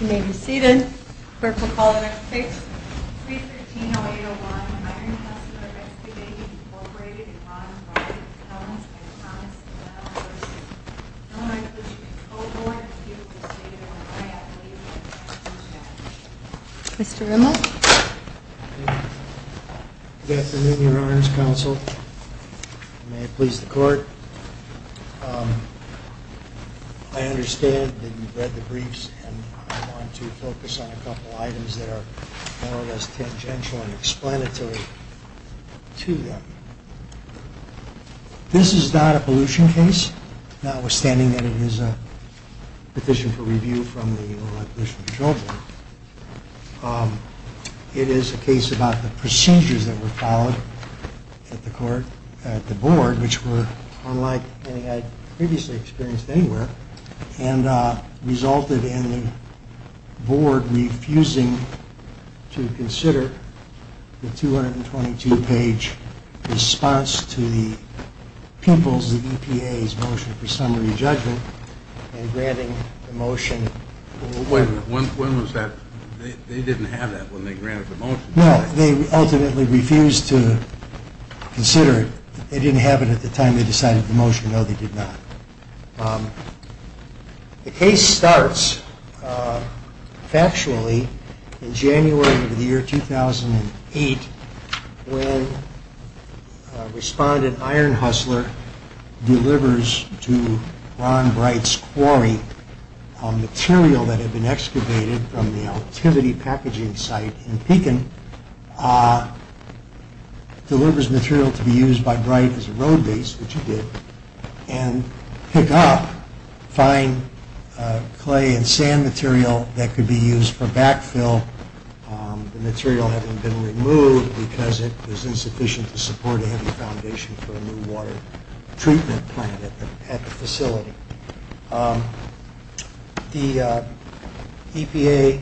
You may be seated. Clerk will call the next case. 313-0801, Ironhustler Excavating, Inc. v. Illinois Pollution Control Board is due to proceed at 1 a.m. Mr. Rimmel. Good afternoon, Your Honors Counsel. May it please the Court. I understand that you've read the briefs and I want to focus on a couple of items that are more or less tangential and explanatory to them. This is not a pollution case, notwithstanding that it is a petition for review from the Illinois Pollution Control Board. It is a case about the procedures that were followed at the Board, which were unlike anything I'd previously experienced anywhere, and resulted in the Board refusing to consider the 222-page response to the PIMPLs, the EPA's motion for summary judgment, and granting the motion. Wait a minute, when was that? They didn't have that when they granted the motion. No, they ultimately refused to consider it. They didn't have it at the time they decided the motion, no they did not. The case starts factually in January of the year 2008 when Respondent Iron Hustler delivers to Ron Bright's quarry material that had been excavated from the activity packaging site in Pekin, delivers material to be used by Bright as a road base, which he did, and pick up fine clay and sand material that could be used for backfill, the material having been removed because it was insufficient to support a heavy foundation for a new water treatment plant at the facility. The EPA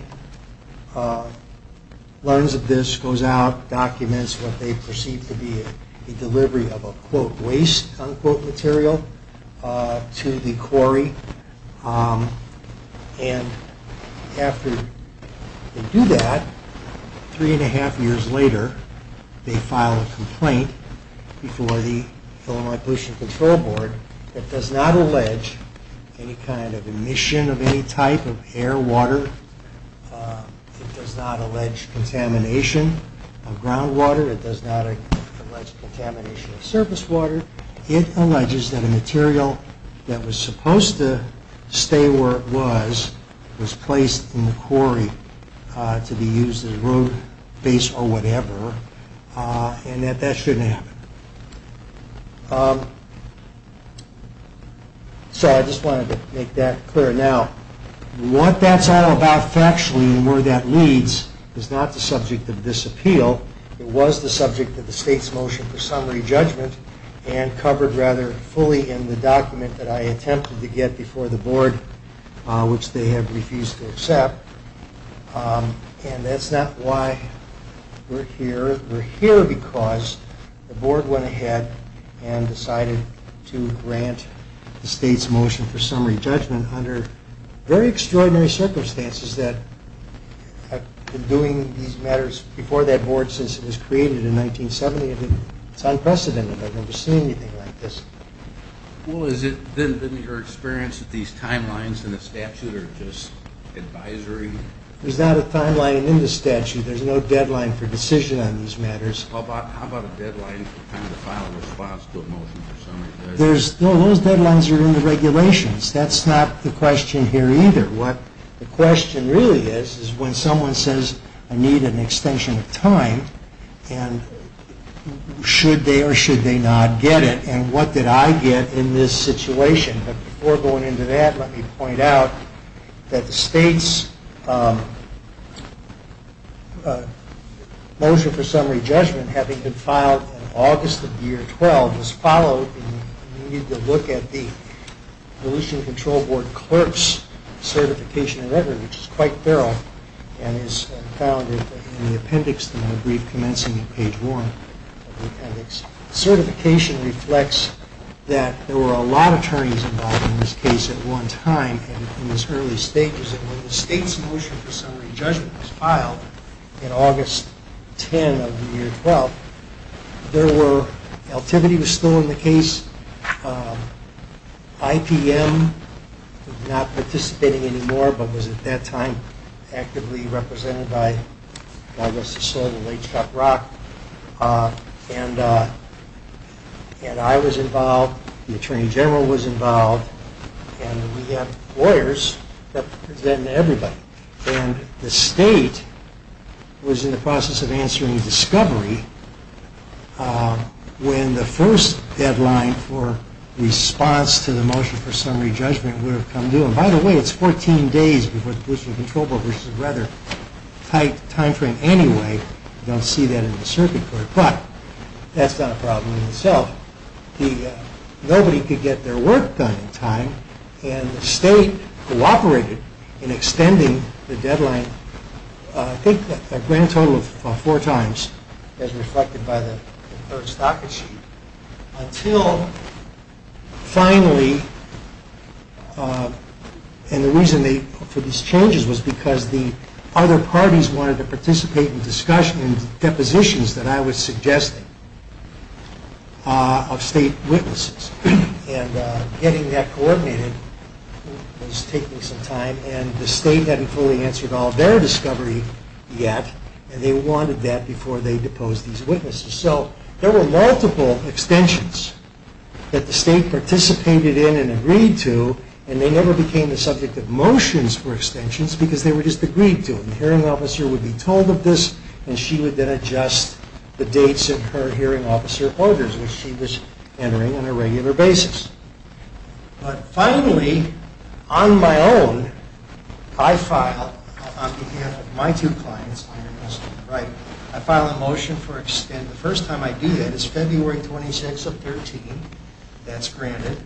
learns of this, goes out, documents what they perceive to be a delivery of a, quote, waste, unquote, material to the quarry, and after they do that, three and a half years later, they file a complaint before the Illinois Pollution Control Board that does not allege any kind of emission of any type of air, water, it does not allege contamination of groundwater, it does not allege contamination of surface water, it alleges that a material that was supposed to stay where it was, was placed in the quarry to be used as a road base or whatever, and that that shouldn't happen. So I just wanted to make that clear. Now, what that's all about factually and where that leads is not the subject of this appeal, it was the subject of the state's motion for summary judgment, and covered rather fully in the document that I attempted to get before the board, which they have refused to accept, and that's not why we're here. We're here because the board went ahead and decided to grant the state's motion for summary judgment under very extraordinary circumstances that have been doing these matters before that board since it was created in 1970. It's unprecedented. I've never seen anything like this. Well, has it been your experience that these timelines in the statute are just advisory? There's not a timeline in the statute. There's no deadline for decision on these matters. How about a deadline for time to file a response to a motion for summary judgment? Those deadlines are in the regulations. That's not the question here either. What the question really is, is when someone says I need an extension of time, and should they or should they not get it, and what did I get in this situation? But before going into that, let me point out that the state's motion for summary judgment, having been filed in August of the year 12, was followed, and you need to look at the pollution control board clerk's certification of record, which is quite thorough, and is found in the appendix to my brief commencing on page one of the appendix. And this certification reflects that there were a lot of attorneys involved in this case at one time, and in these early stages, and when the state's motion for summary judgment was filed in August 10 of the year 12, there were, Eltimity was still in the case, IPM was not participating anymore, but was at that time actively represented by Douglas DeSoto and H. Scott Rock, and I was involved, the Attorney General was involved, and we had lawyers representing everybody. And the state was in the process of answering discovery when the first deadline for response to the motion for summary judgment would have come due. And by the way, it's 14 days before the pollution control board, which is a rather tight time frame anyway, you don't see that in the circuit court, but that's not a problem in itself. Nobody could get their work done in time, and the state cooperated in extending the deadline, I think a grand total of four times, as reflected by the third stocket sheet, until finally, and the reason for these changes was because the other parties wanted to participate in depositions that I was suggesting of state witnesses. And getting that coordinated was taking some time, and the state hadn't fully answered all of their discovery yet, and they wanted that before they deposed these witnesses. So there were multiple extensions that the state participated in and agreed to, and they never became the subject of motions for extensions because they were just agreed to. So the hearing officer would be told of this, and she would then adjust the dates in her hearing officer orders, which she was entering on a regular basis. But finally, on my own, I filed, on behalf of my two clients, I filed a motion for extension. The first time I do that is February 26th of 2013, that's granted.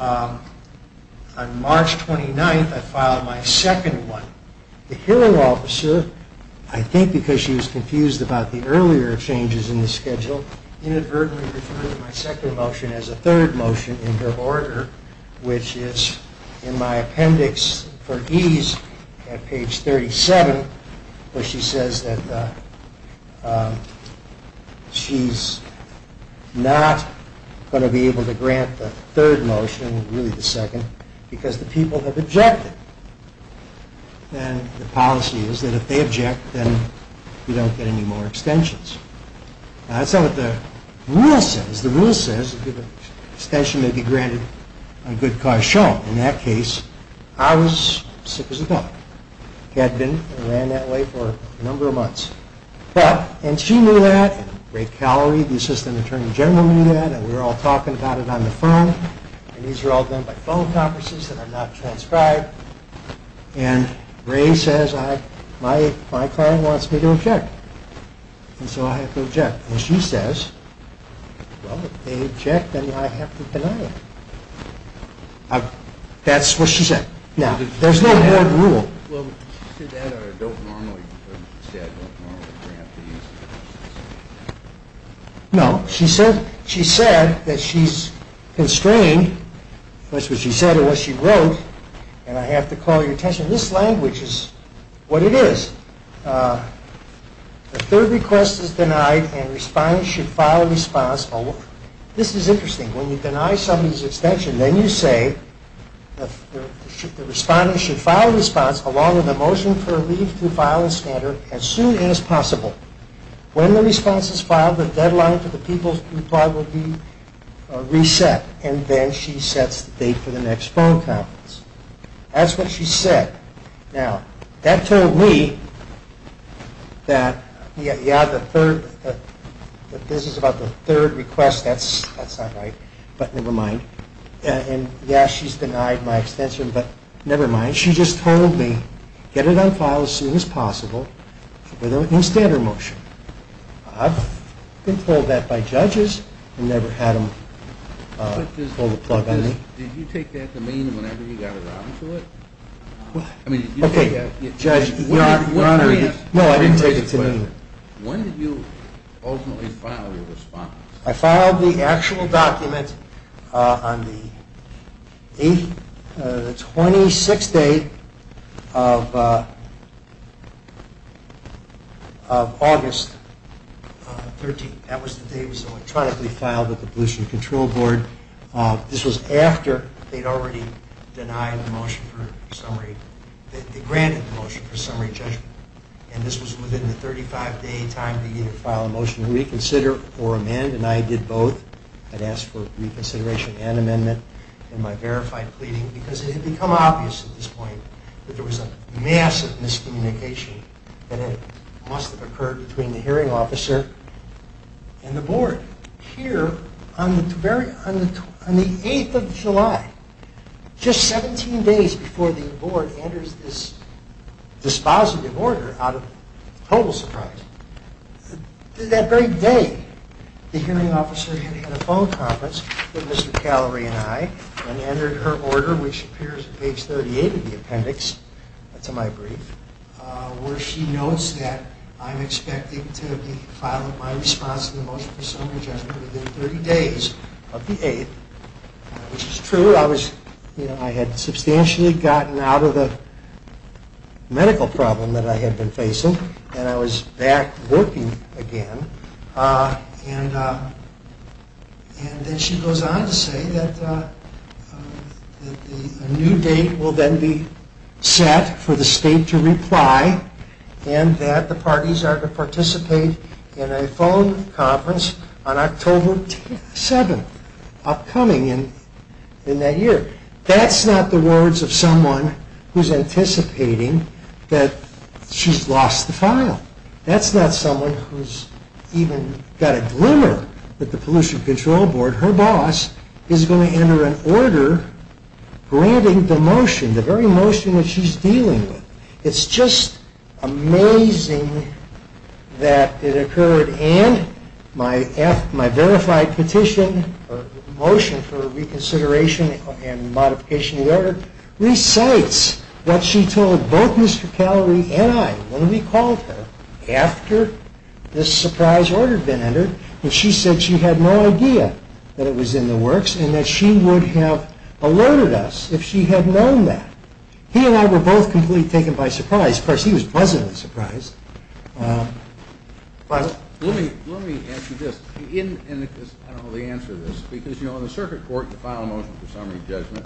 On March 29th, I filed my second one. The hearing officer, I think because she was confused about the earlier changes in the schedule, inadvertently referred to my second motion as a third motion in her order, which is in my appendix for ease at page 37, where she says that she's not going to be able to grant a third motion, really the second, because the people have objected. And the policy is that if they object, then we don't get any more extensions. That's not what the rule says. The rule says that the extension may be granted on good cause shown. In that case, I was sick as a duck. Had been, and ran that way for a number of months. But, and she knew that, and Ray Callery, the assistant attorney general knew that, and we were all talking about it on the phone. And these are all done by phone conferences that are not transcribed. And Ray says, my client wants me to object. And so I have to object. And she says, well, if they object, then I have to deny it. That's what she said. Now, there's no hard rule. Well, did she say that or don't normally grant these? No. She said that she's constrained. That's what she said or what she wrote. And I have to call your attention, this language is what it is. A third request is denied, and respondent should file responsible. This is interesting. When you deny somebody's extension, then you say the respondent should file a response along with a motion for a leave to file and scatter as soon as possible. When the response is filed, the deadline for the people's reply will be reset, and then she sets the date for the next phone conference. That's what she said. Now, that told me that, yeah, the third, this is about the third request, that's not right, but never mind. And, yeah, she's denied my extension, but never mind. And she just told me, get it on file as soon as possible with a standard motion. I've been told that by judges and never had them pull the plug on me. Did you take that to mean whenever you got around to it? Okay, Judge, no, I didn't take it to mean. When did you ultimately file your response? I filed the actual document on the 26th day of August 13th. That was the day it was electronically filed at the Pollution Control Board. This was after they'd already denied the motion for summary, they granted the motion for summary judgment. And this was within the 35-day time to either file a motion to reconsider or amend, and I did both. I'd asked for reconsideration and amendment in my verified pleading because it had become obvious at this point that there was a massive miscommunication that must have occurred between the hearing officer and the board. Here, on the 8th of July, just 17 days before the board enters this dispositive order, out of total surprise, that very day the hearing officer had had a phone conference with Mr. Callery and I and entered her order, which appears on page 38 of the appendix to my brief, where she notes that I'm expecting to be filing my response to the motion for summary judgment within 30 days of the 8th, which is true. I had substantially gotten out of the medical problem that I had been facing and I was back working again, and then she goes on to say that a new date will then be set for the state to reply and that the parties are to participate in a phone conference on October 7th, upcoming in that year. That's not the words of someone who's anticipating that she's lost the file. That's not someone who's even got a glimmer that the Pollution Control Board, her boss, is going to enter an order granting the motion, the very motion that she's dealing with. It's just amazing that it occurred and my verified petition or motion for reconsideration and modification of the order recites what she told both Mr. Callery and I when we called her after this surprise order had been entered, and she said she had no idea that it was in the works and that she would have alerted us if she had known that. He and I were both completely taken by surprise. Of course, he was pleasantly surprised. Let me ask you this. I don't know the answer to this. Because, you know, in the circuit court, you file a motion for summary judgment,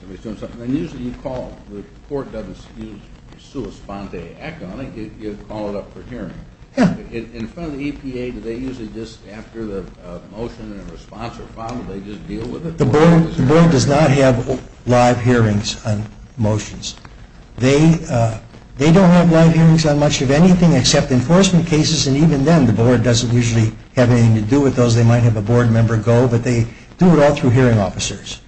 somebody's doing something, and usually you call, the court doesn't use sua sponte act on it, you call it up for hearing. In front of the EPA, do they usually just, after the motion and response are filed, do they just deal with it? The board does not have live hearings on motions. They don't have live hearings on much of anything except enforcement cases, and even then the board doesn't usually have anything to do with those. They might have a board member go, but they do it all through hearing officers.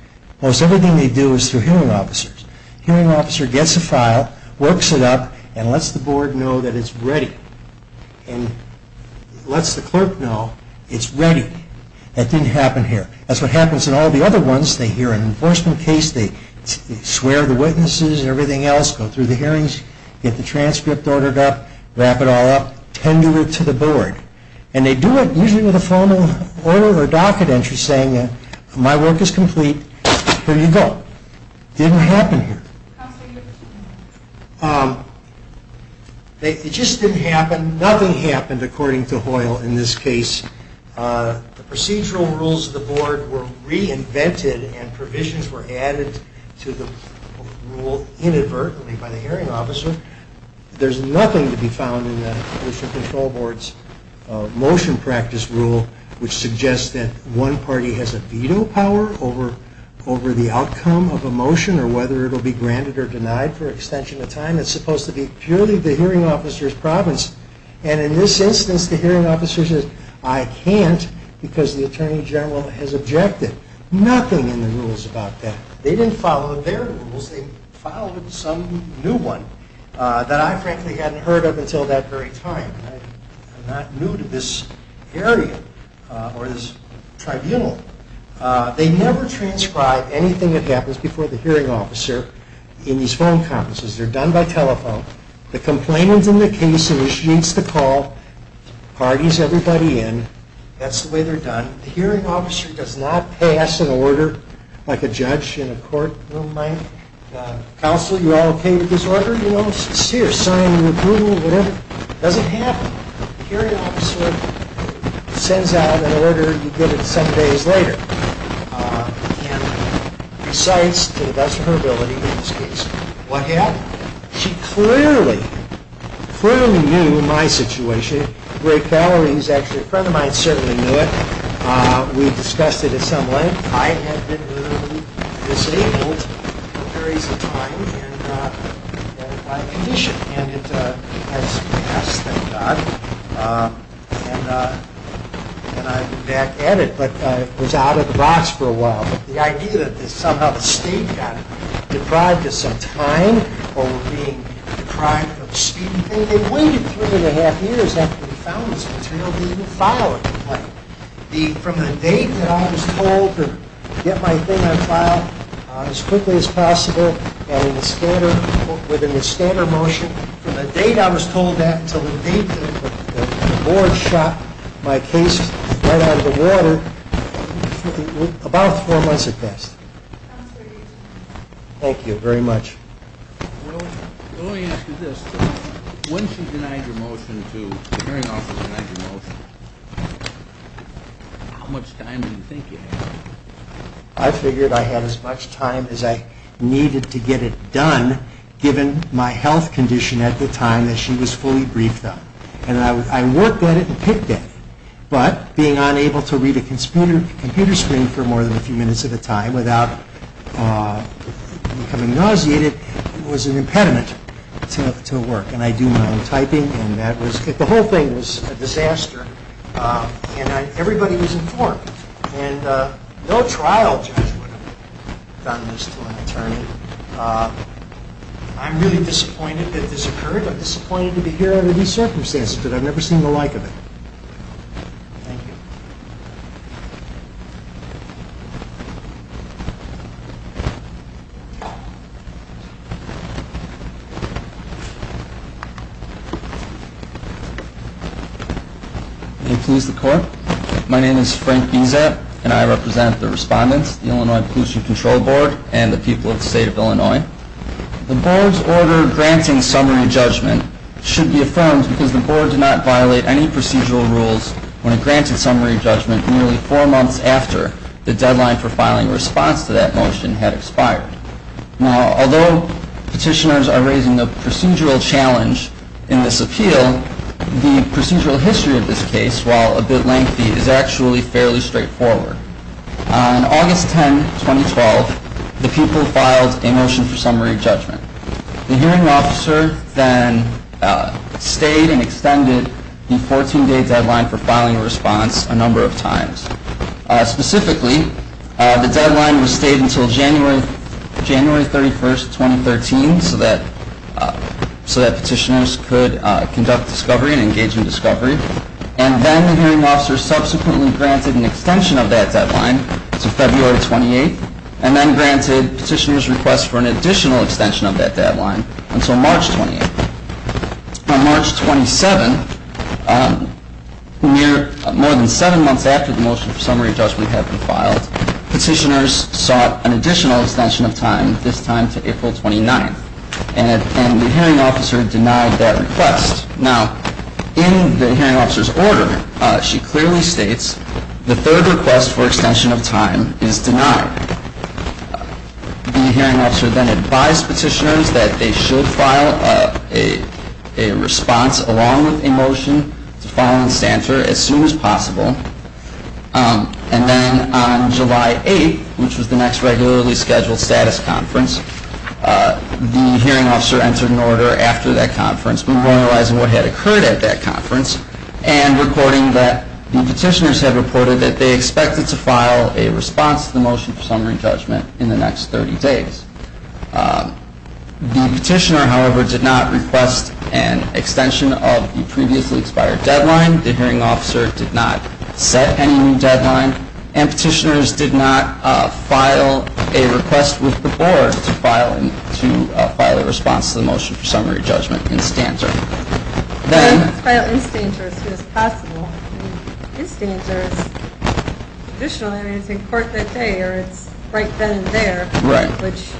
Most everything they do is through hearing officers. Hearing officer gets a file, works it up, and lets the board know that it's ready. And lets the clerk know it's ready. That didn't happen here. That's what happens in all the other ones. They hear an enforcement case, they swear the witnesses and everything else, go through the hearings, get the transcript ordered up, wrap it all up, tend to it to the board. And they do it usually with a formal order or docket entry saying my work is complete, here you go. Didn't happen here. It just didn't happen. Nothing happened according to Hoyle in this case. The procedural rules of the board were reinvented and provisions were added to the rule inadvertently by the hearing officer. There's nothing to be found in the Commission Control Board's motion practice rule which suggests that one party has a veto power over the outcome of a motion or whether it will be granted or denied for extension of time. It's supposed to be purely the hearing officer's province. And in this instance, the hearing officer says I can't because the Attorney General has objected. Nothing in the rules about that. They didn't follow their rules, they followed some new one that I frankly hadn't heard of until that very time. I'm not new to this area or this tribunal. They never transcribe anything that happens before the hearing officer in these phone conferences. They're done by telephone. The complainant's in the case and she needs to call. Parties everybody in. That's the way they're done. The hearing officer does not pass an order like a judge in a courtroom might. Counsel, you all okay with this order? You know, sincere, signing approval, whatever. Doesn't happen. The hearing officer sends out an order. You get it some days later and recites to the best of her ability in this case. What happened? She clearly, clearly knew my situation. Ray Calhoun, who's actually a friend of mine, certainly knew it. We discussed it at some length. I had been literally disabled for periods of time and by condition. And it has passed, thank God. And I'm back at it. But I was out of the box for a while. The idea that somehow the state got it, deprived us of time over being deprived of speed. They waited three and a half years after we found this material to even file it. From the date that I was told to get my thing on file as quickly as possible and within the standard motion, from the date I was told that until the date that the board shot my case right out of the water, about four months had passed. Thank you very much. Well, let me ask you this. When she denied your motion to, the hearing officer denied your motion, how much time do you think you had? I figured I had as much time as I needed to get it done given my health condition at the time that she was fully briefed on. And I worked at it and picked at it. But being unable to read a computer screen for more than a few minutes at a time without becoming nauseated was an impediment to work. And I do my own typing. The whole thing was a disaster. And everybody was informed. And no trial judge would have done this to an attorney. I'm really disappointed that this occurred. I'm disappointed to be here under these circumstances. I'm disappointed I've never seen the like of it. Thank you. May it please the Court. My name is Frank Bizet, and I represent the respondents, the Illinois Policing Control Board, and the people of the State of Illinois. The board's order granting summary judgment should be affirmed because the board did not violate any procedural rules when it granted summary judgment nearly four months after the deadline for filing a response to that motion had expired. Now, although petitioners are raising the procedural challenge in this appeal, the procedural history of this case, while a bit lengthy, is actually fairly straightforward. On August 10, 2012, the people filed a motion for summary judgment. The hearing officer then stayed and extended the 14-day deadline for filing a response a number of times. Specifically, the deadline was stayed until January 31, 2013, so that petitioners could conduct discovery and engage in discovery. And then the hearing officer subsequently granted an extension of that deadline to February 28, and then granted petitioners' request for an additional extension of that deadline until March 28. On March 27, more than seven months after the motion for summary judgment had been filed, petitioners sought an additional extension of time, this time to April 29, and the hearing officer denied that request. Now, in the hearing officer's order, she clearly states the third request for extension of time is denied. The hearing officer then advised petitioners that they should file a response along with a motion to file an extension as soon as possible. And then on July 8, which was the next regularly scheduled status conference, the hearing officer entered an order after that conference, memorializing what had occurred at that conference, and reporting that the petitioners had The petitioner, however, did not request an extension of the previously expired deadline. The hearing officer did not set any new deadline. And petitioners did not file a request with the board to file a response to the motion for summary judgment in standard. It's filed in standards as soon as possible. In standards, traditionally, I mean, it's in court that day, or it's right then and there. Right. Which,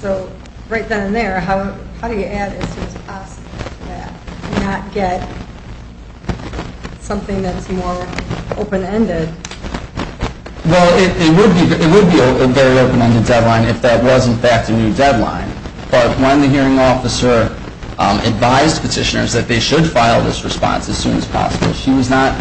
so right then and there, how do you add as soon as possible to that and not get something that's more open-ended? Well, it would be a very open-ended deadline if that was in fact a new deadline. The hearing officer advised petitioners that they should file this response as soon as possible. She was not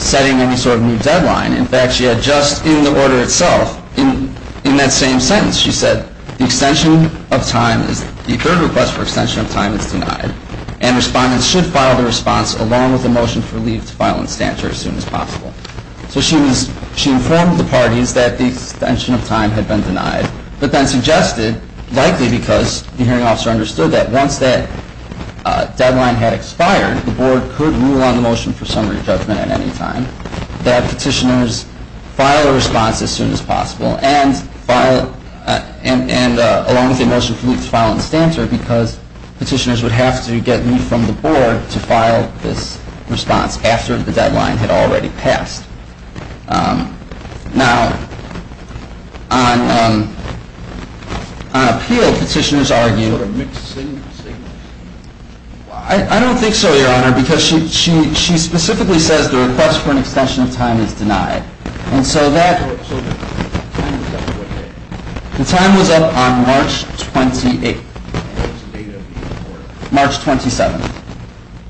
setting any sort of new deadline. In fact, she had just in the order itself, in that same sentence, she said, the extension of time, the third request for extension of time is denied, and respondents should file the response along with the motion for leave to file in standards as soon as possible. So she informed the parties that the extension of time had been denied, but likely because the hearing officer understood that once that deadline had expired, the board could rule on the motion for summary judgment at any time, that petitioners file a response as soon as possible, and along with the motion for leave to file in standards, because petitioners would have to get leave from the board to file this response after the deadline had already passed. Now, on appeal, petitioners argue. What are mixed signals? I don't think so, Your Honor, because she specifically says the request for an extension of time is denied. So the time was up on what day? The time was up on March 28th. And what's the date of the order? March 27th.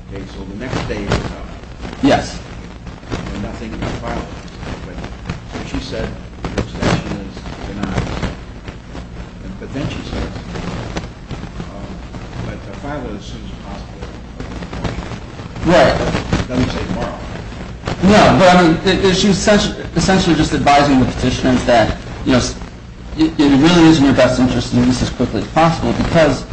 Okay, so the next day is coming. Yes. I'm not thinking about filing. But she said the extension is denied. But then she said, but file it as soon as possible. Right. It doesn't say tomorrow. No, but I mean, she was essentially just advising the petitioners that, you know, it really is in your best interest to do this as quickly as possible because,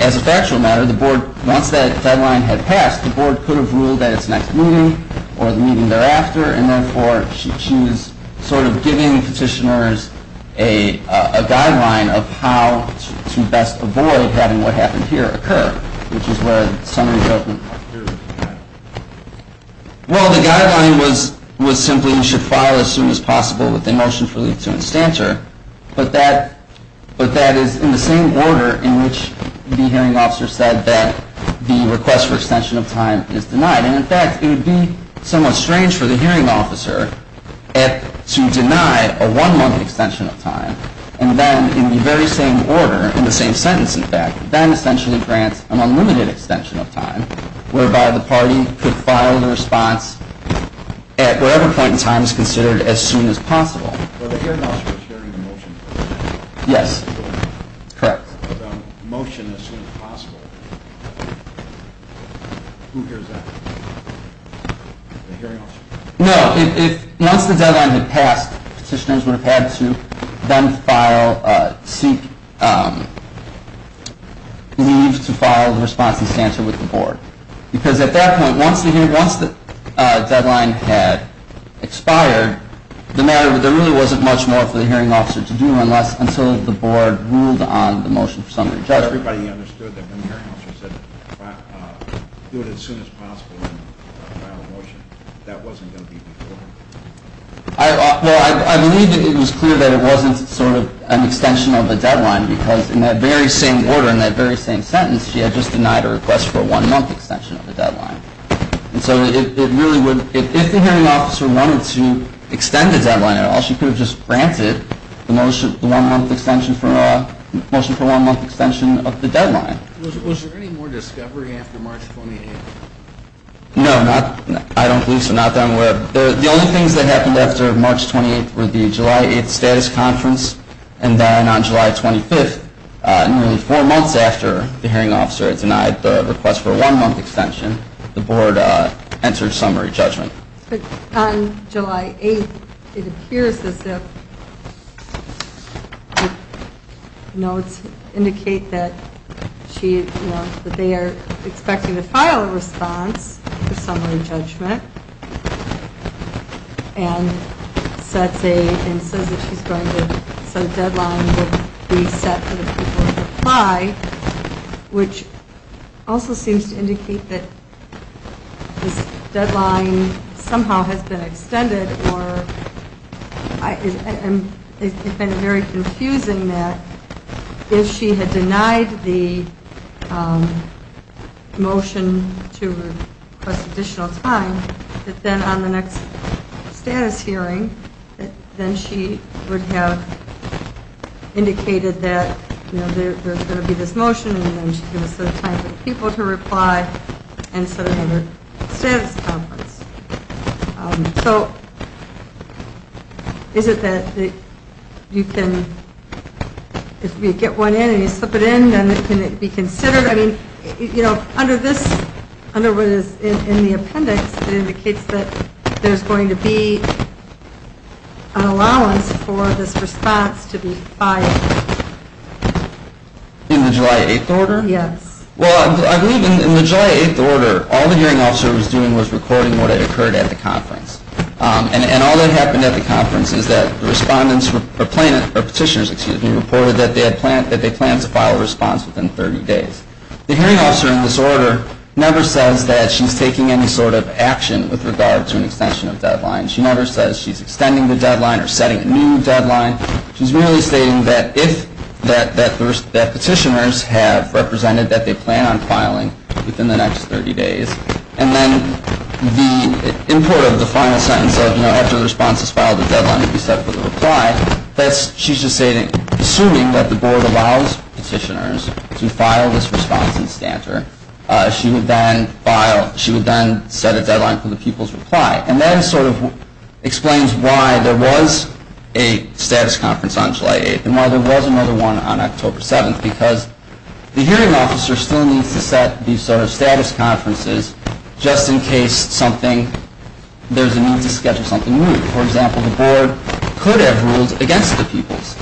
as a factual matter, the board, once that deadline had passed, the board could have ruled that it's the next meeting or the meeting thereafter, and, therefore, she was sort of giving petitioners a guideline of how to best avoid having what happened here occur, which is where the summary judgment occurred. Well, the guideline was simply you should file as soon as possible with the motion for leave to instancer. But that is in the same order in which the hearing officer said that the request for extension of time is denied. And, in fact, it would be somewhat strange for the hearing officer to deny a one-month extension of time and then, in the very same order, in the same sentence, in fact, then essentially grant an unlimited extension of time, whereby the party could file the response at whatever point in time is considered as soon as possible. Well, the hearing officer was hearing the motion. Yes, correct. The motion as soon as possible. Who hears that? The hearing officer. No. Once the deadline had passed, petitioners would have had to then file, seek leave to file the response instancer with the board. Because at that point, once the deadline had expired, the matter, there really wasn't much more for the hearing officer to do unless, until the board ruled on the motion for summary judgment. Everybody understood that when the hearing officer said do it as soon as possible and file a motion. That wasn't going to be before. Well, I believe it was clear that it wasn't sort of an extension of the deadline because, in that very same order, in that very same sentence, she had just denied a request for a one-month extension of the deadline. She could have just granted the motion for a one-month extension of the deadline. Was there any more discovery after March 28th? No. I don't believe so. Not that I'm aware of. The only things that happened after March 28th were the July 8th status conference, and then on July 25th, nearly four months after the hearing officer had denied the request for a one-month extension, the board entered summary judgment. On July 8th, it appears as if notes indicate that she, you know, that they are expecting to file a response for summary judgment, and sets a, and says that she's going to set a deadline to be set for the people to hear. It also seems to indicate that this deadline somehow has been extended, or it's been very confusing that if she had denied the motion to request additional time, that then on the next status hearing, that then she would have indicated that, you know, there's going to be this motion, and then she's going to set a time for the people to reply, and set another status conference. So is it that you can, if you get one in and you slip it in, then it can be considered? I mean, you know, under this, in the appendix, it indicates that there's going to be an allowance for this response to be filed. In the July 8th order? Yes. Well, I believe in the July 8th order, all the hearing officer was doing was recording what had occurred at the conference. And all that happened at the conference is that the respondents, or petitioners, excuse me, reported that they planned to file a response within 30 days. The hearing officer in this order never says that she's taking any sort of deadline. She never says she's extending the deadline or setting a new deadline. She's merely stating that if, that petitioners have represented that they plan on filing within the next 30 days. And then the import of the final sentence of, you know, after the response is filed, the deadline will be set for the reply. That's, she's just saying, assuming that the board allows petitioners to file this response in Stanter, she would then file, she would then set a deadline for the people's reply. And that sort of explains why there was a status conference on July 8th and why there was another one on October 7th. Because the hearing officer still needs to set these sort of status conferences just in case something, there's a need to schedule something new. For example, the board could have ruled against the people's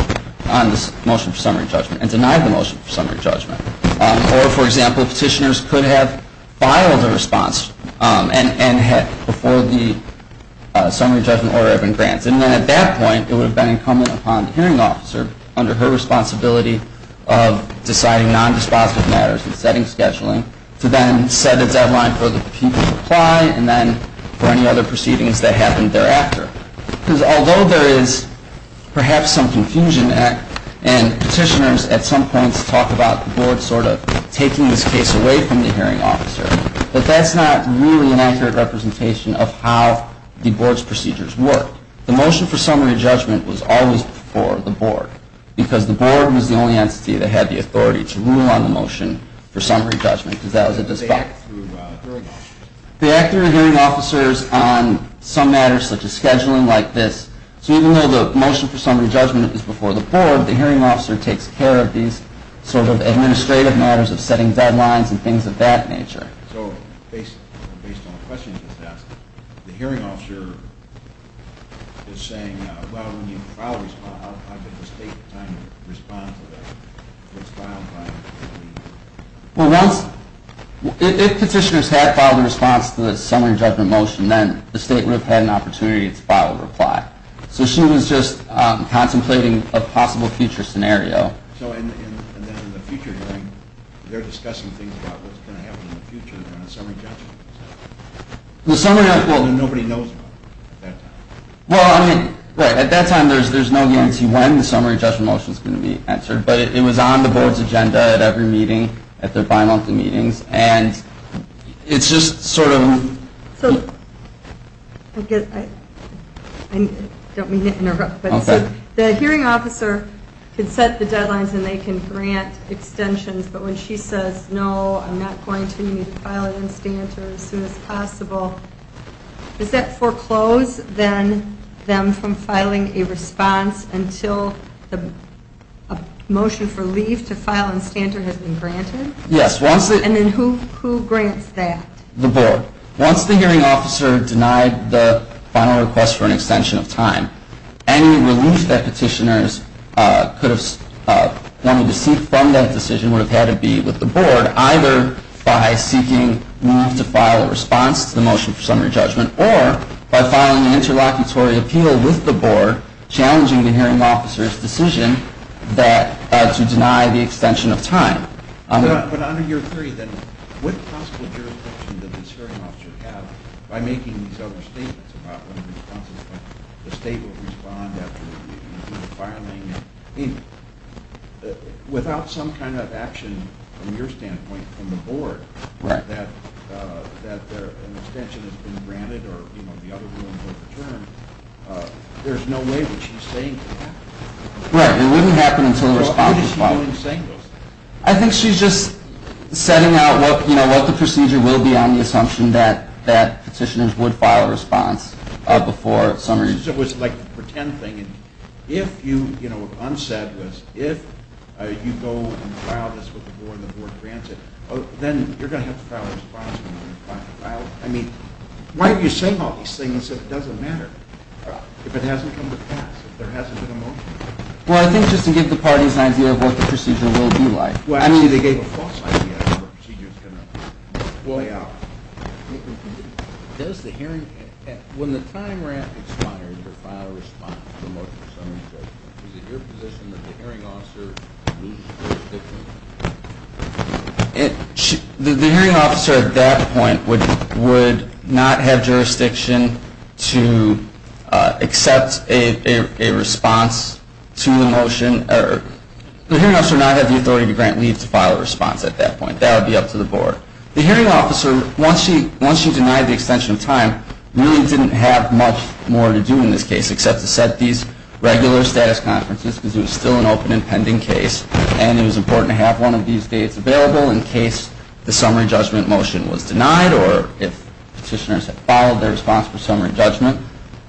motion for summary judgment and denied the motion for summary judgment. Or, for example, petitioners could have filed a response and had, before the summary judgment order had been granted. And then at that point, it would have been incumbent upon the hearing officer, under her responsibility of deciding non-dispositive matters and setting scheduling, to then set a deadline for the people's reply and then for any other proceedings that happened thereafter. Because although there is perhaps some confusion and petitioners at some points talk about the board sort of taking this case away from the hearing officer, but that's not really an accurate representation of how the board's procedures work. The motion for summary judgment was always before the board, because the board was the only entity that had the authority to rule on the motion for summary judgment, because that was a dispute. They act through a hearing officer. They act through a hearing officer on some matters such as scheduling like this. So even though the motion for summary judgment is before the board, the hearing officer takes care of these sort of administrative matters of setting deadlines and things of that nature. So based on the question you just asked, the hearing officer is saying, well, when you file a response, how does the state respond to that? Well, if petitioners had filed a response to the summary judgment motion, then the state would have had an opportunity to file a reply. So she was just contemplating a possible future scenario. So in the future hearing, they're discussing things about what's going to happen in the future around the summary judgment. Well, nobody knows about it at that time. Well, I mean, right. At that time, there's no guarantee when the summary judgment motion is going to be answered, but it was on the board's agenda at every meeting, at their bimonthly meetings, and it's just sort of. So I guess I don't mean to interrupt. Okay. The hearing officer can set the deadlines and they can grant extensions, but when she says, no, I'm not going to need to file an instanter as soon as possible, does that foreclose then them from filing a response until a motion for leave to file an instanter has been granted? Yes. And then who grants that? The board. Once the hearing officer denied the final request for an extension of time, any relief that petitioners could have wanted to seek from that decision would have had to be with the board, either by seeking leave to file a response to the motion for summary judgment or by filing an interlocutory appeal with the board, challenging the hearing officer's decision to deny the extension of time. But under your theory, then, what possible jurisdiction does this hearing officer have by making these other statements about when the state will respond after the filing? Without some kind of action from your standpoint from the board that an extension has been granted or, you know, the other rulings overturned, there's no way that she's saying that. Right. It wouldn't happen until the response was filed. So what is she doing saying those things? I think she's just setting out, you know, what the procedure will be on the assumption that petitioners would file a response before summary judgment. It was like a pretend thing. If you, you know, unsaid was if you go and file this with the board and the board grants it, then you're going to have to file a response. I mean, why are you saying all these things if it doesn't matter, if it hasn't come to pass, if there hasn't been a motion? Well, I think just to give the parties an idea of what the procedure will be like. Well, actually, they gave a false idea of what the procedure was going to look like. Well, yeah. Does the hearing, when the time we're at expires to file a response to the motion for summary judgment, is it your position that the hearing officer needs jurisdiction? The hearing officer at that point would not have jurisdiction to accept a response to the motion. The hearing officer would not have the authority to grant leave to file a response at that point. That would be up to the board. The hearing officer, once she denied the extension of time, really didn't have much more to do in this case except to set these regular status conferences because it was still an open and pending case, and it was important to have one of these dates available in case the summary judgment motion was denied or if petitioners had followed their response for summary judgment.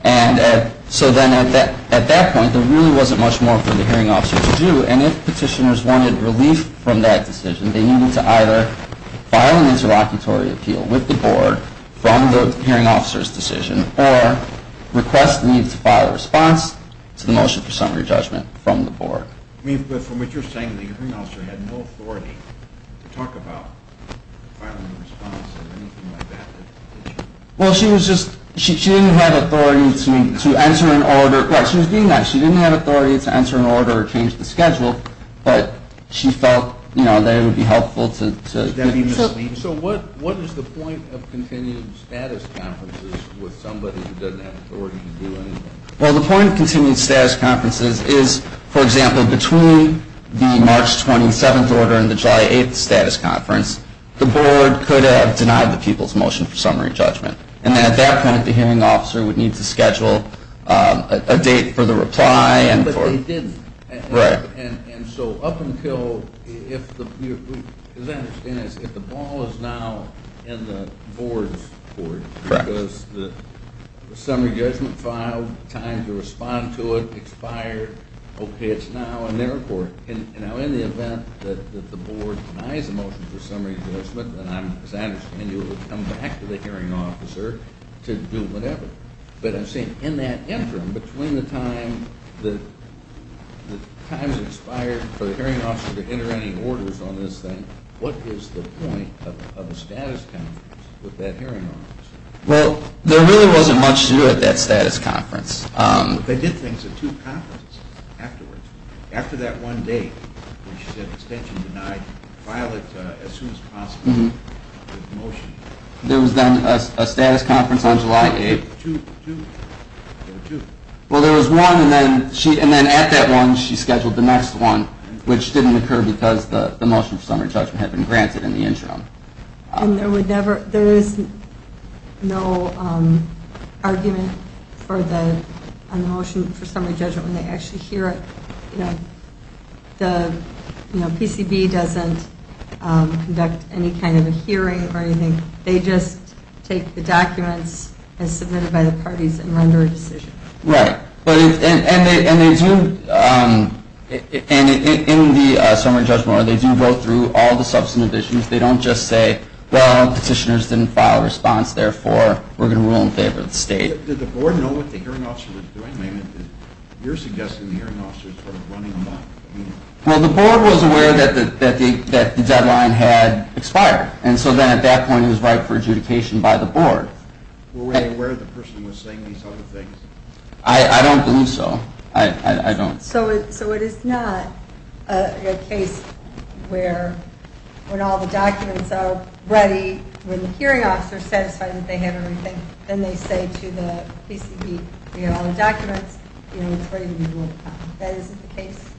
And so then at that point, there really wasn't much more for the hearing officer to do. And if petitioners wanted relief from that decision, they needed to either file an interlocutory appeal with the board from the hearing officer's decision or request leave to file a response to the motion for summary judgment from the board. But from what you're saying, the hearing officer had no authority to talk about filing a response or anything like that. Well, she was just, she didn't have authority to answer an order. She was being nice. She didn't have authority to answer an order or change the schedule, but she felt that it would be helpful to. So what is the point of continued status conferences with somebody who doesn't have authority to do anything? Well, the point of continued status conferences is, for example, between the March 27th order and the July 8th status conference, the board could have people's motion for summary judgment. And at that point, the hearing officer would need to schedule a date for the reply. But they didn't. Right. And so up until, as I understand it, the ball is now in the board's court. Correct. Because the summary judgment filed, time to respond to it expired. Okay, it's now in their court. And now in the event that the board denies a motion for summary judgment, then I'm, as I understand it, it would come back to the hearing officer to do whatever. But I'm saying in that interim, between the time that time has expired for the hearing officer to enter any orders on this thing, what is the point of a status conference with that hearing officer? Well, there really wasn't much to do at that status conference. They did things at two conferences afterwards. After that one date, when she said extension denied, file it as soon as possible with the motion. There was then a status conference on July 8th. Well, there was one, and then at that one, she scheduled the next one, which didn't occur because the motion for summary judgment had been granted in the interim. And there is no argument for the motion for summary judgment when they actually hear it. The PCB doesn't conduct any kind of a hearing or anything. They just take the documents as submitted by the parties and render a decision. Right. And they do, in the summary judgment, they do go through all the substantive issues. They don't just say, well, petitioners didn't file a response, therefore, we're going to rule in favor of the state. Did the board know what the hearing officer was doing? I mean, you're suggesting the hearing officer was sort of running amok. Well, the board was aware that the deadline had expired. And so then at that point, it was right for adjudication by the board. Were they aware the person was saying these other things? I don't believe so. I don't. So it is not a case where when all the documents are ready, when the hearing officer is going to file a response, the board is going to say, well, we're going to rule in favor of the PCB. We have all the documents. It's ready to be ruled upon. That isn't the case?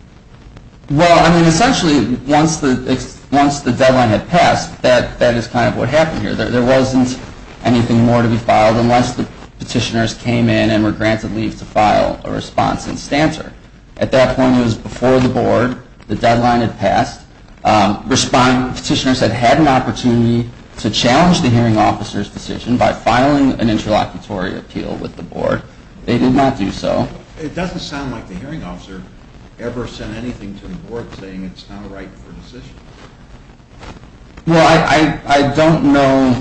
Well, I mean, essentially, once the deadline had passed, that is kind of what happened here. There wasn't anything more to be filed unless the petitioners came in and were granted leave to file a response in stancer. At that point, it was before the board. The deadline had passed. Petitioners had had an opportunity to challenge the hearing officer's authority by filing an interlocutory appeal with the board. They did not do so. It doesn't sound like the hearing officer ever said anything to the board saying it's not right for decision. Well, I don't know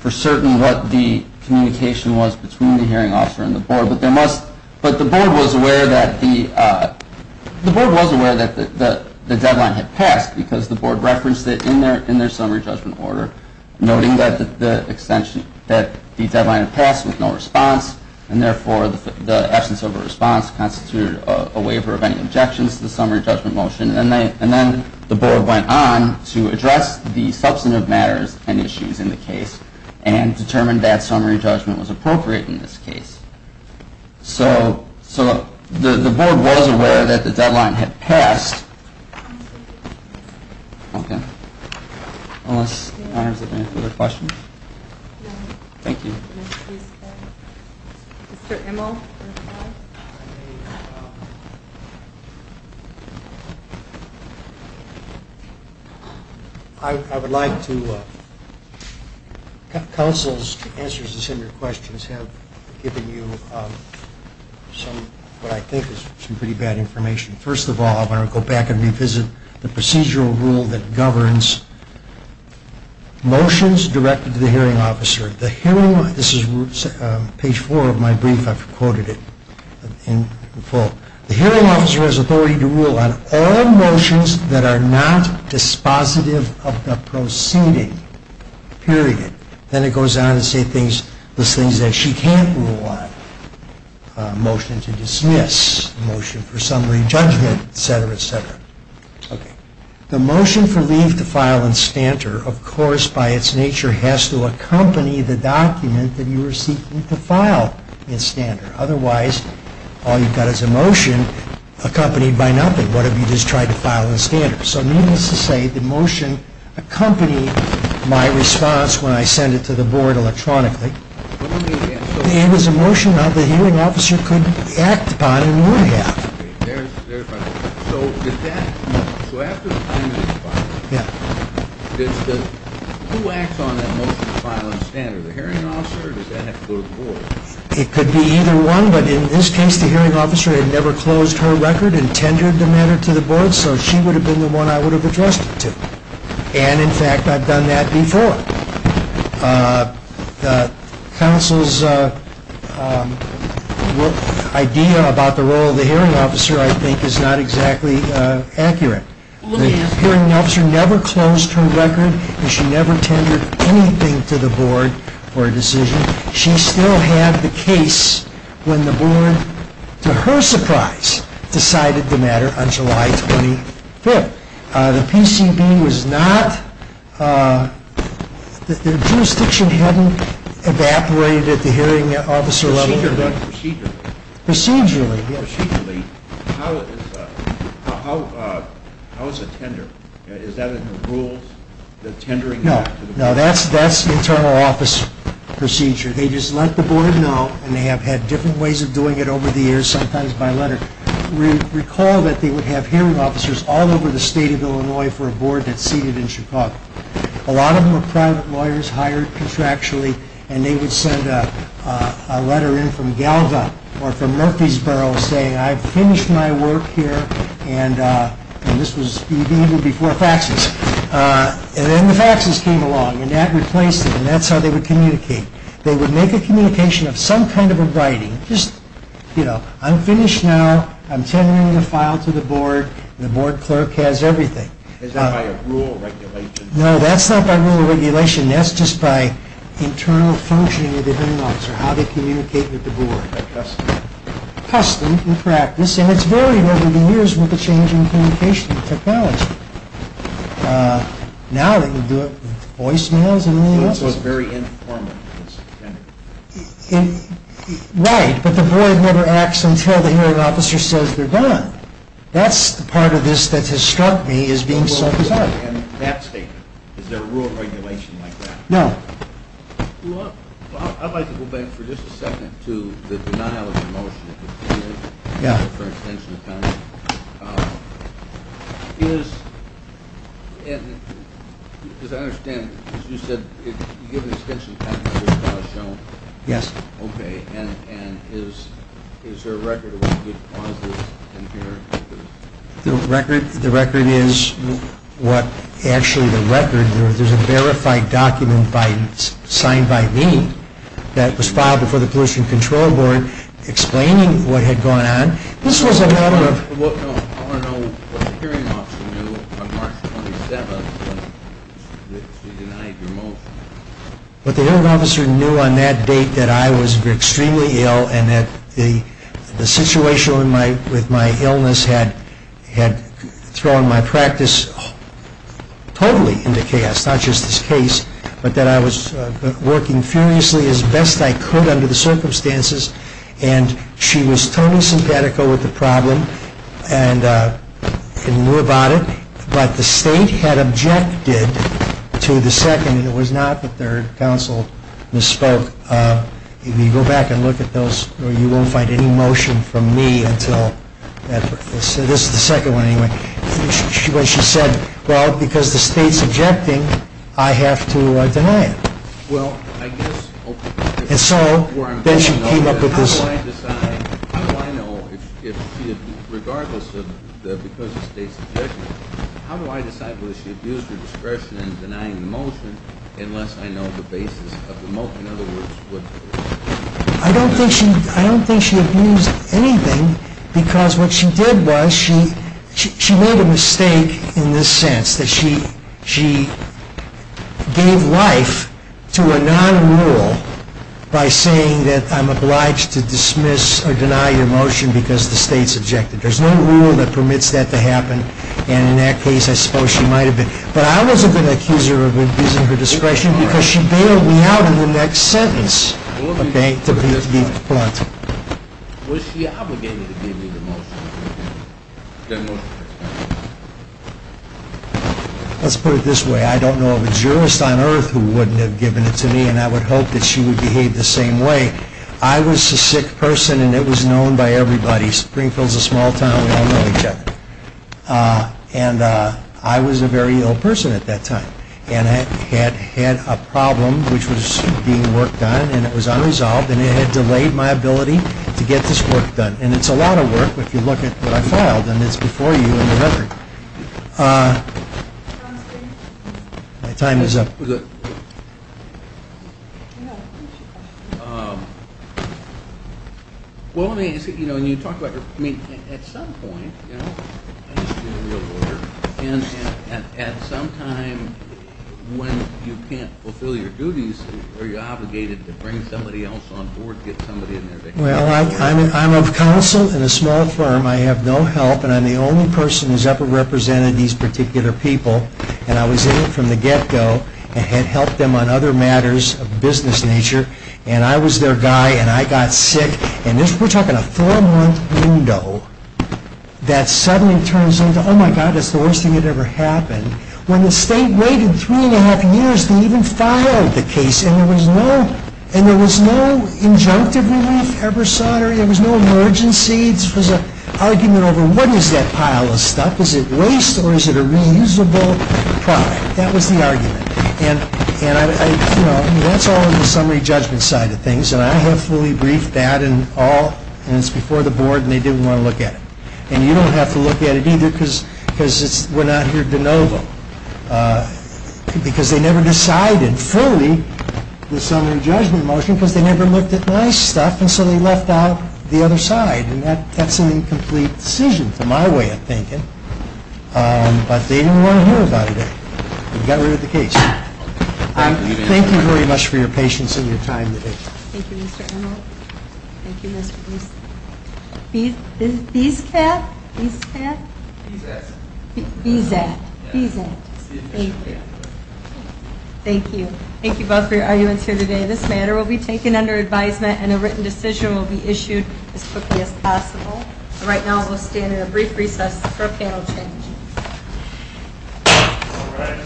for certain what the communication was between the hearing officer and the board, but the board was aware that the deadline had passed because the board referenced it in their summary judgment order, noting that the deadline had passed with no response, and therefore the absence of a response constituted a waiver of any objections to the summary judgment motion. And then the board went on to address the substantive matters and issues in the case and determined that summary judgment was appropriate in this case. So the board was aware that the deadline had passed. Okay. Unless the honors have any other questions? No. Thank you. Mr. Immel. I would like to counsel's answers to some of your questions have given you some of what I think is some pretty bad information. First of all, I want to go back and revisit the procedural rule that governs motions directed to the hearing officer. This is page four of my brief. I've quoted it in full. The hearing officer has authority to rule on all motions that are not dispositive of the proceeding, period. Then it goes on to say things, those things that she can't rule on. Motion to dismiss, motion for summary judgment, et cetera, et cetera. Okay. The motion for leave to file in standard, of course, by its nature, has to accompany the document that you are seeking to file in standard. Otherwise, all you've got is a motion accompanied by nothing. What if you just tried to file in standard? So needless to say, the motion accompanied my response when I sent it to the board electronically. It was a motion that the hearing officer could act upon and would have. So after the time of the filing, who acts on that motion to file in standard? The hearing officer or does that have to go to the board? It could be either one, but in this case, the hearing officer had never closed her record and tendered the matter to the board, so she would have been the one I would have addressed it to. And, in fact, I've done that before. The council's idea about the role of the hearing officer, I think, is not exactly accurate. The hearing officer never closed her record, and she never tendered anything to the board for a decision. She still had the case when the board, to her surprise, decided the matter on July 25th. The PCB was not, the jurisdiction hadn't evaporated at the hearing officer level. Procedurally? Procedurally, yes. Procedurally, how is a tender, is that in the rules, the tendering? No, no, that's internal office procedure. They just let the board know, and they have had different ways of doing it over the years, sometimes by letter. I recall that they would have hearing officers all over the state of Illinois for a board that's seated in Chicago. A lot of them were private lawyers hired contractually, and they would send a letter in from Galva or from Murfreesboro saying, I've finished my work here, and this was even before faxes. And then the faxes came along, and that replaced it, and that's how they would communicate. They would make a communication of some kind of a writing, just, you know, I'm finished now. I'm tendering the file to the board, and the board clerk has everything. Is that by a rule regulation? No, that's not by rule regulation. That's just by internal functioning of the hearing officer, how they communicate with the board. Custom. Custom in practice, and it's varied over the years with the change in communication technology. Now they can do it with voicemails and email. It's also very informal. Right, but the board never acts until the hearing officer says they're done. That's the part of this that has struck me as being so bizarre. And that statement, is there a rule regulation like that? No. Well, I'd like to go back for just a second to the denial of the motion for extension of penalty. Is, as I understand, as you said, if you give an extension of penalty, there's a clause shown. Yes. Okay, and is there a record of when you get clauses in here? The record is what actually the record, there's a verified document signed by me that was filed before the Pollution Control Board explaining what had gone on. I want to know what the hearing officer knew on March 27th when she denied your motion. What the hearing officer knew on that date that I was extremely ill and that the situation with my illness had thrown my practice totally into chaos, not just this case, but that I was working furiously as best I could under the circumstances. And she was totally sympathetical with the problem and knew about it, but the state had objected to the second, and it was not the third, counsel misspoke. If you go back and look at those, you won't find any motion from me until, this is the second one anyway, when she said, well, because the state's objecting, I have to deny it. Well, I guess... And so, then she came up with this... How do I know, regardless of the state's objection, how do I decide whether she abused her discretion in denying the motion unless I know the basis of the motion? I don't think she abused anything because what she did was she made a sense that she gave life to a non-rule by saying that I'm obliged to dismiss or deny your motion because the state's objected. There's no rule that permits that to happen, and in that case, I suppose she might have been... But I wasn't going to accuse her of abusing her discretion because she bailed me out in the next sentence, okay, to be blunt. Was she obligated to give me the motion? Let's put it this way. I don't know of a jurist on earth who wouldn't have given it to me, and I would hope that she would behave the same way. I was a sick person, and it was known by everybody. Springfield's a small town. We all know each other. And I was a very ill person at that time, and I had had a problem which was being worked on, and it was unresolved, and it had delayed my ability to get this work done. And it's a lot of work if you look at what I filed, and it's before you in the record. My time is up. Well, let me ask you, you know, when you talk about your... I mean, at some point, you know, I used to be a real lawyer, and at some time when you can't fulfill your duties, are you obligated to bring somebody else on board to get somebody in there to... Well, I'm of counsel in a small firm. I have no help, and I'm the only person who's ever represented these particular people, and I was in it from the get-go and had helped them on other matters of business nature. And I was their guy, and I got sick, and we're talking a four-month window that suddenly turns into, oh, my God, that's the worst thing that ever happened. When the state waited three and a half years to even file the case, and there was no injunctive relief ever sought, or there was no emergency. It was an argument over what is that pile of stuff? That was the argument. And, you know, that's all in the summary judgment side of things, and I have fully briefed that and all, and it's before the board, and they didn't want to look at it. And you don't have to look at it either, because we're not here de novo, because they never decided fully the summary judgment motion, because they never looked at my stuff, and so they left out the other side. And that's an incomplete decision, to my way of thinking, but they didn't want to hear about it. Okay. We've got rid of the case. Thank you very much for your patience and your time today. Thank you, Mr. Emerald. Thank you, Mr. Beeson. Bees-cat? Bees-cat? Bees-at. Bees-at. Bees-at. Thank you. Thank you. Thank you both for your arguments here today. This matter will be taken under advisement, and a written decision will be issued as quickly as possible. Right now, we'll stand in a brief recess for a panel change. All right. Thank you for your recess.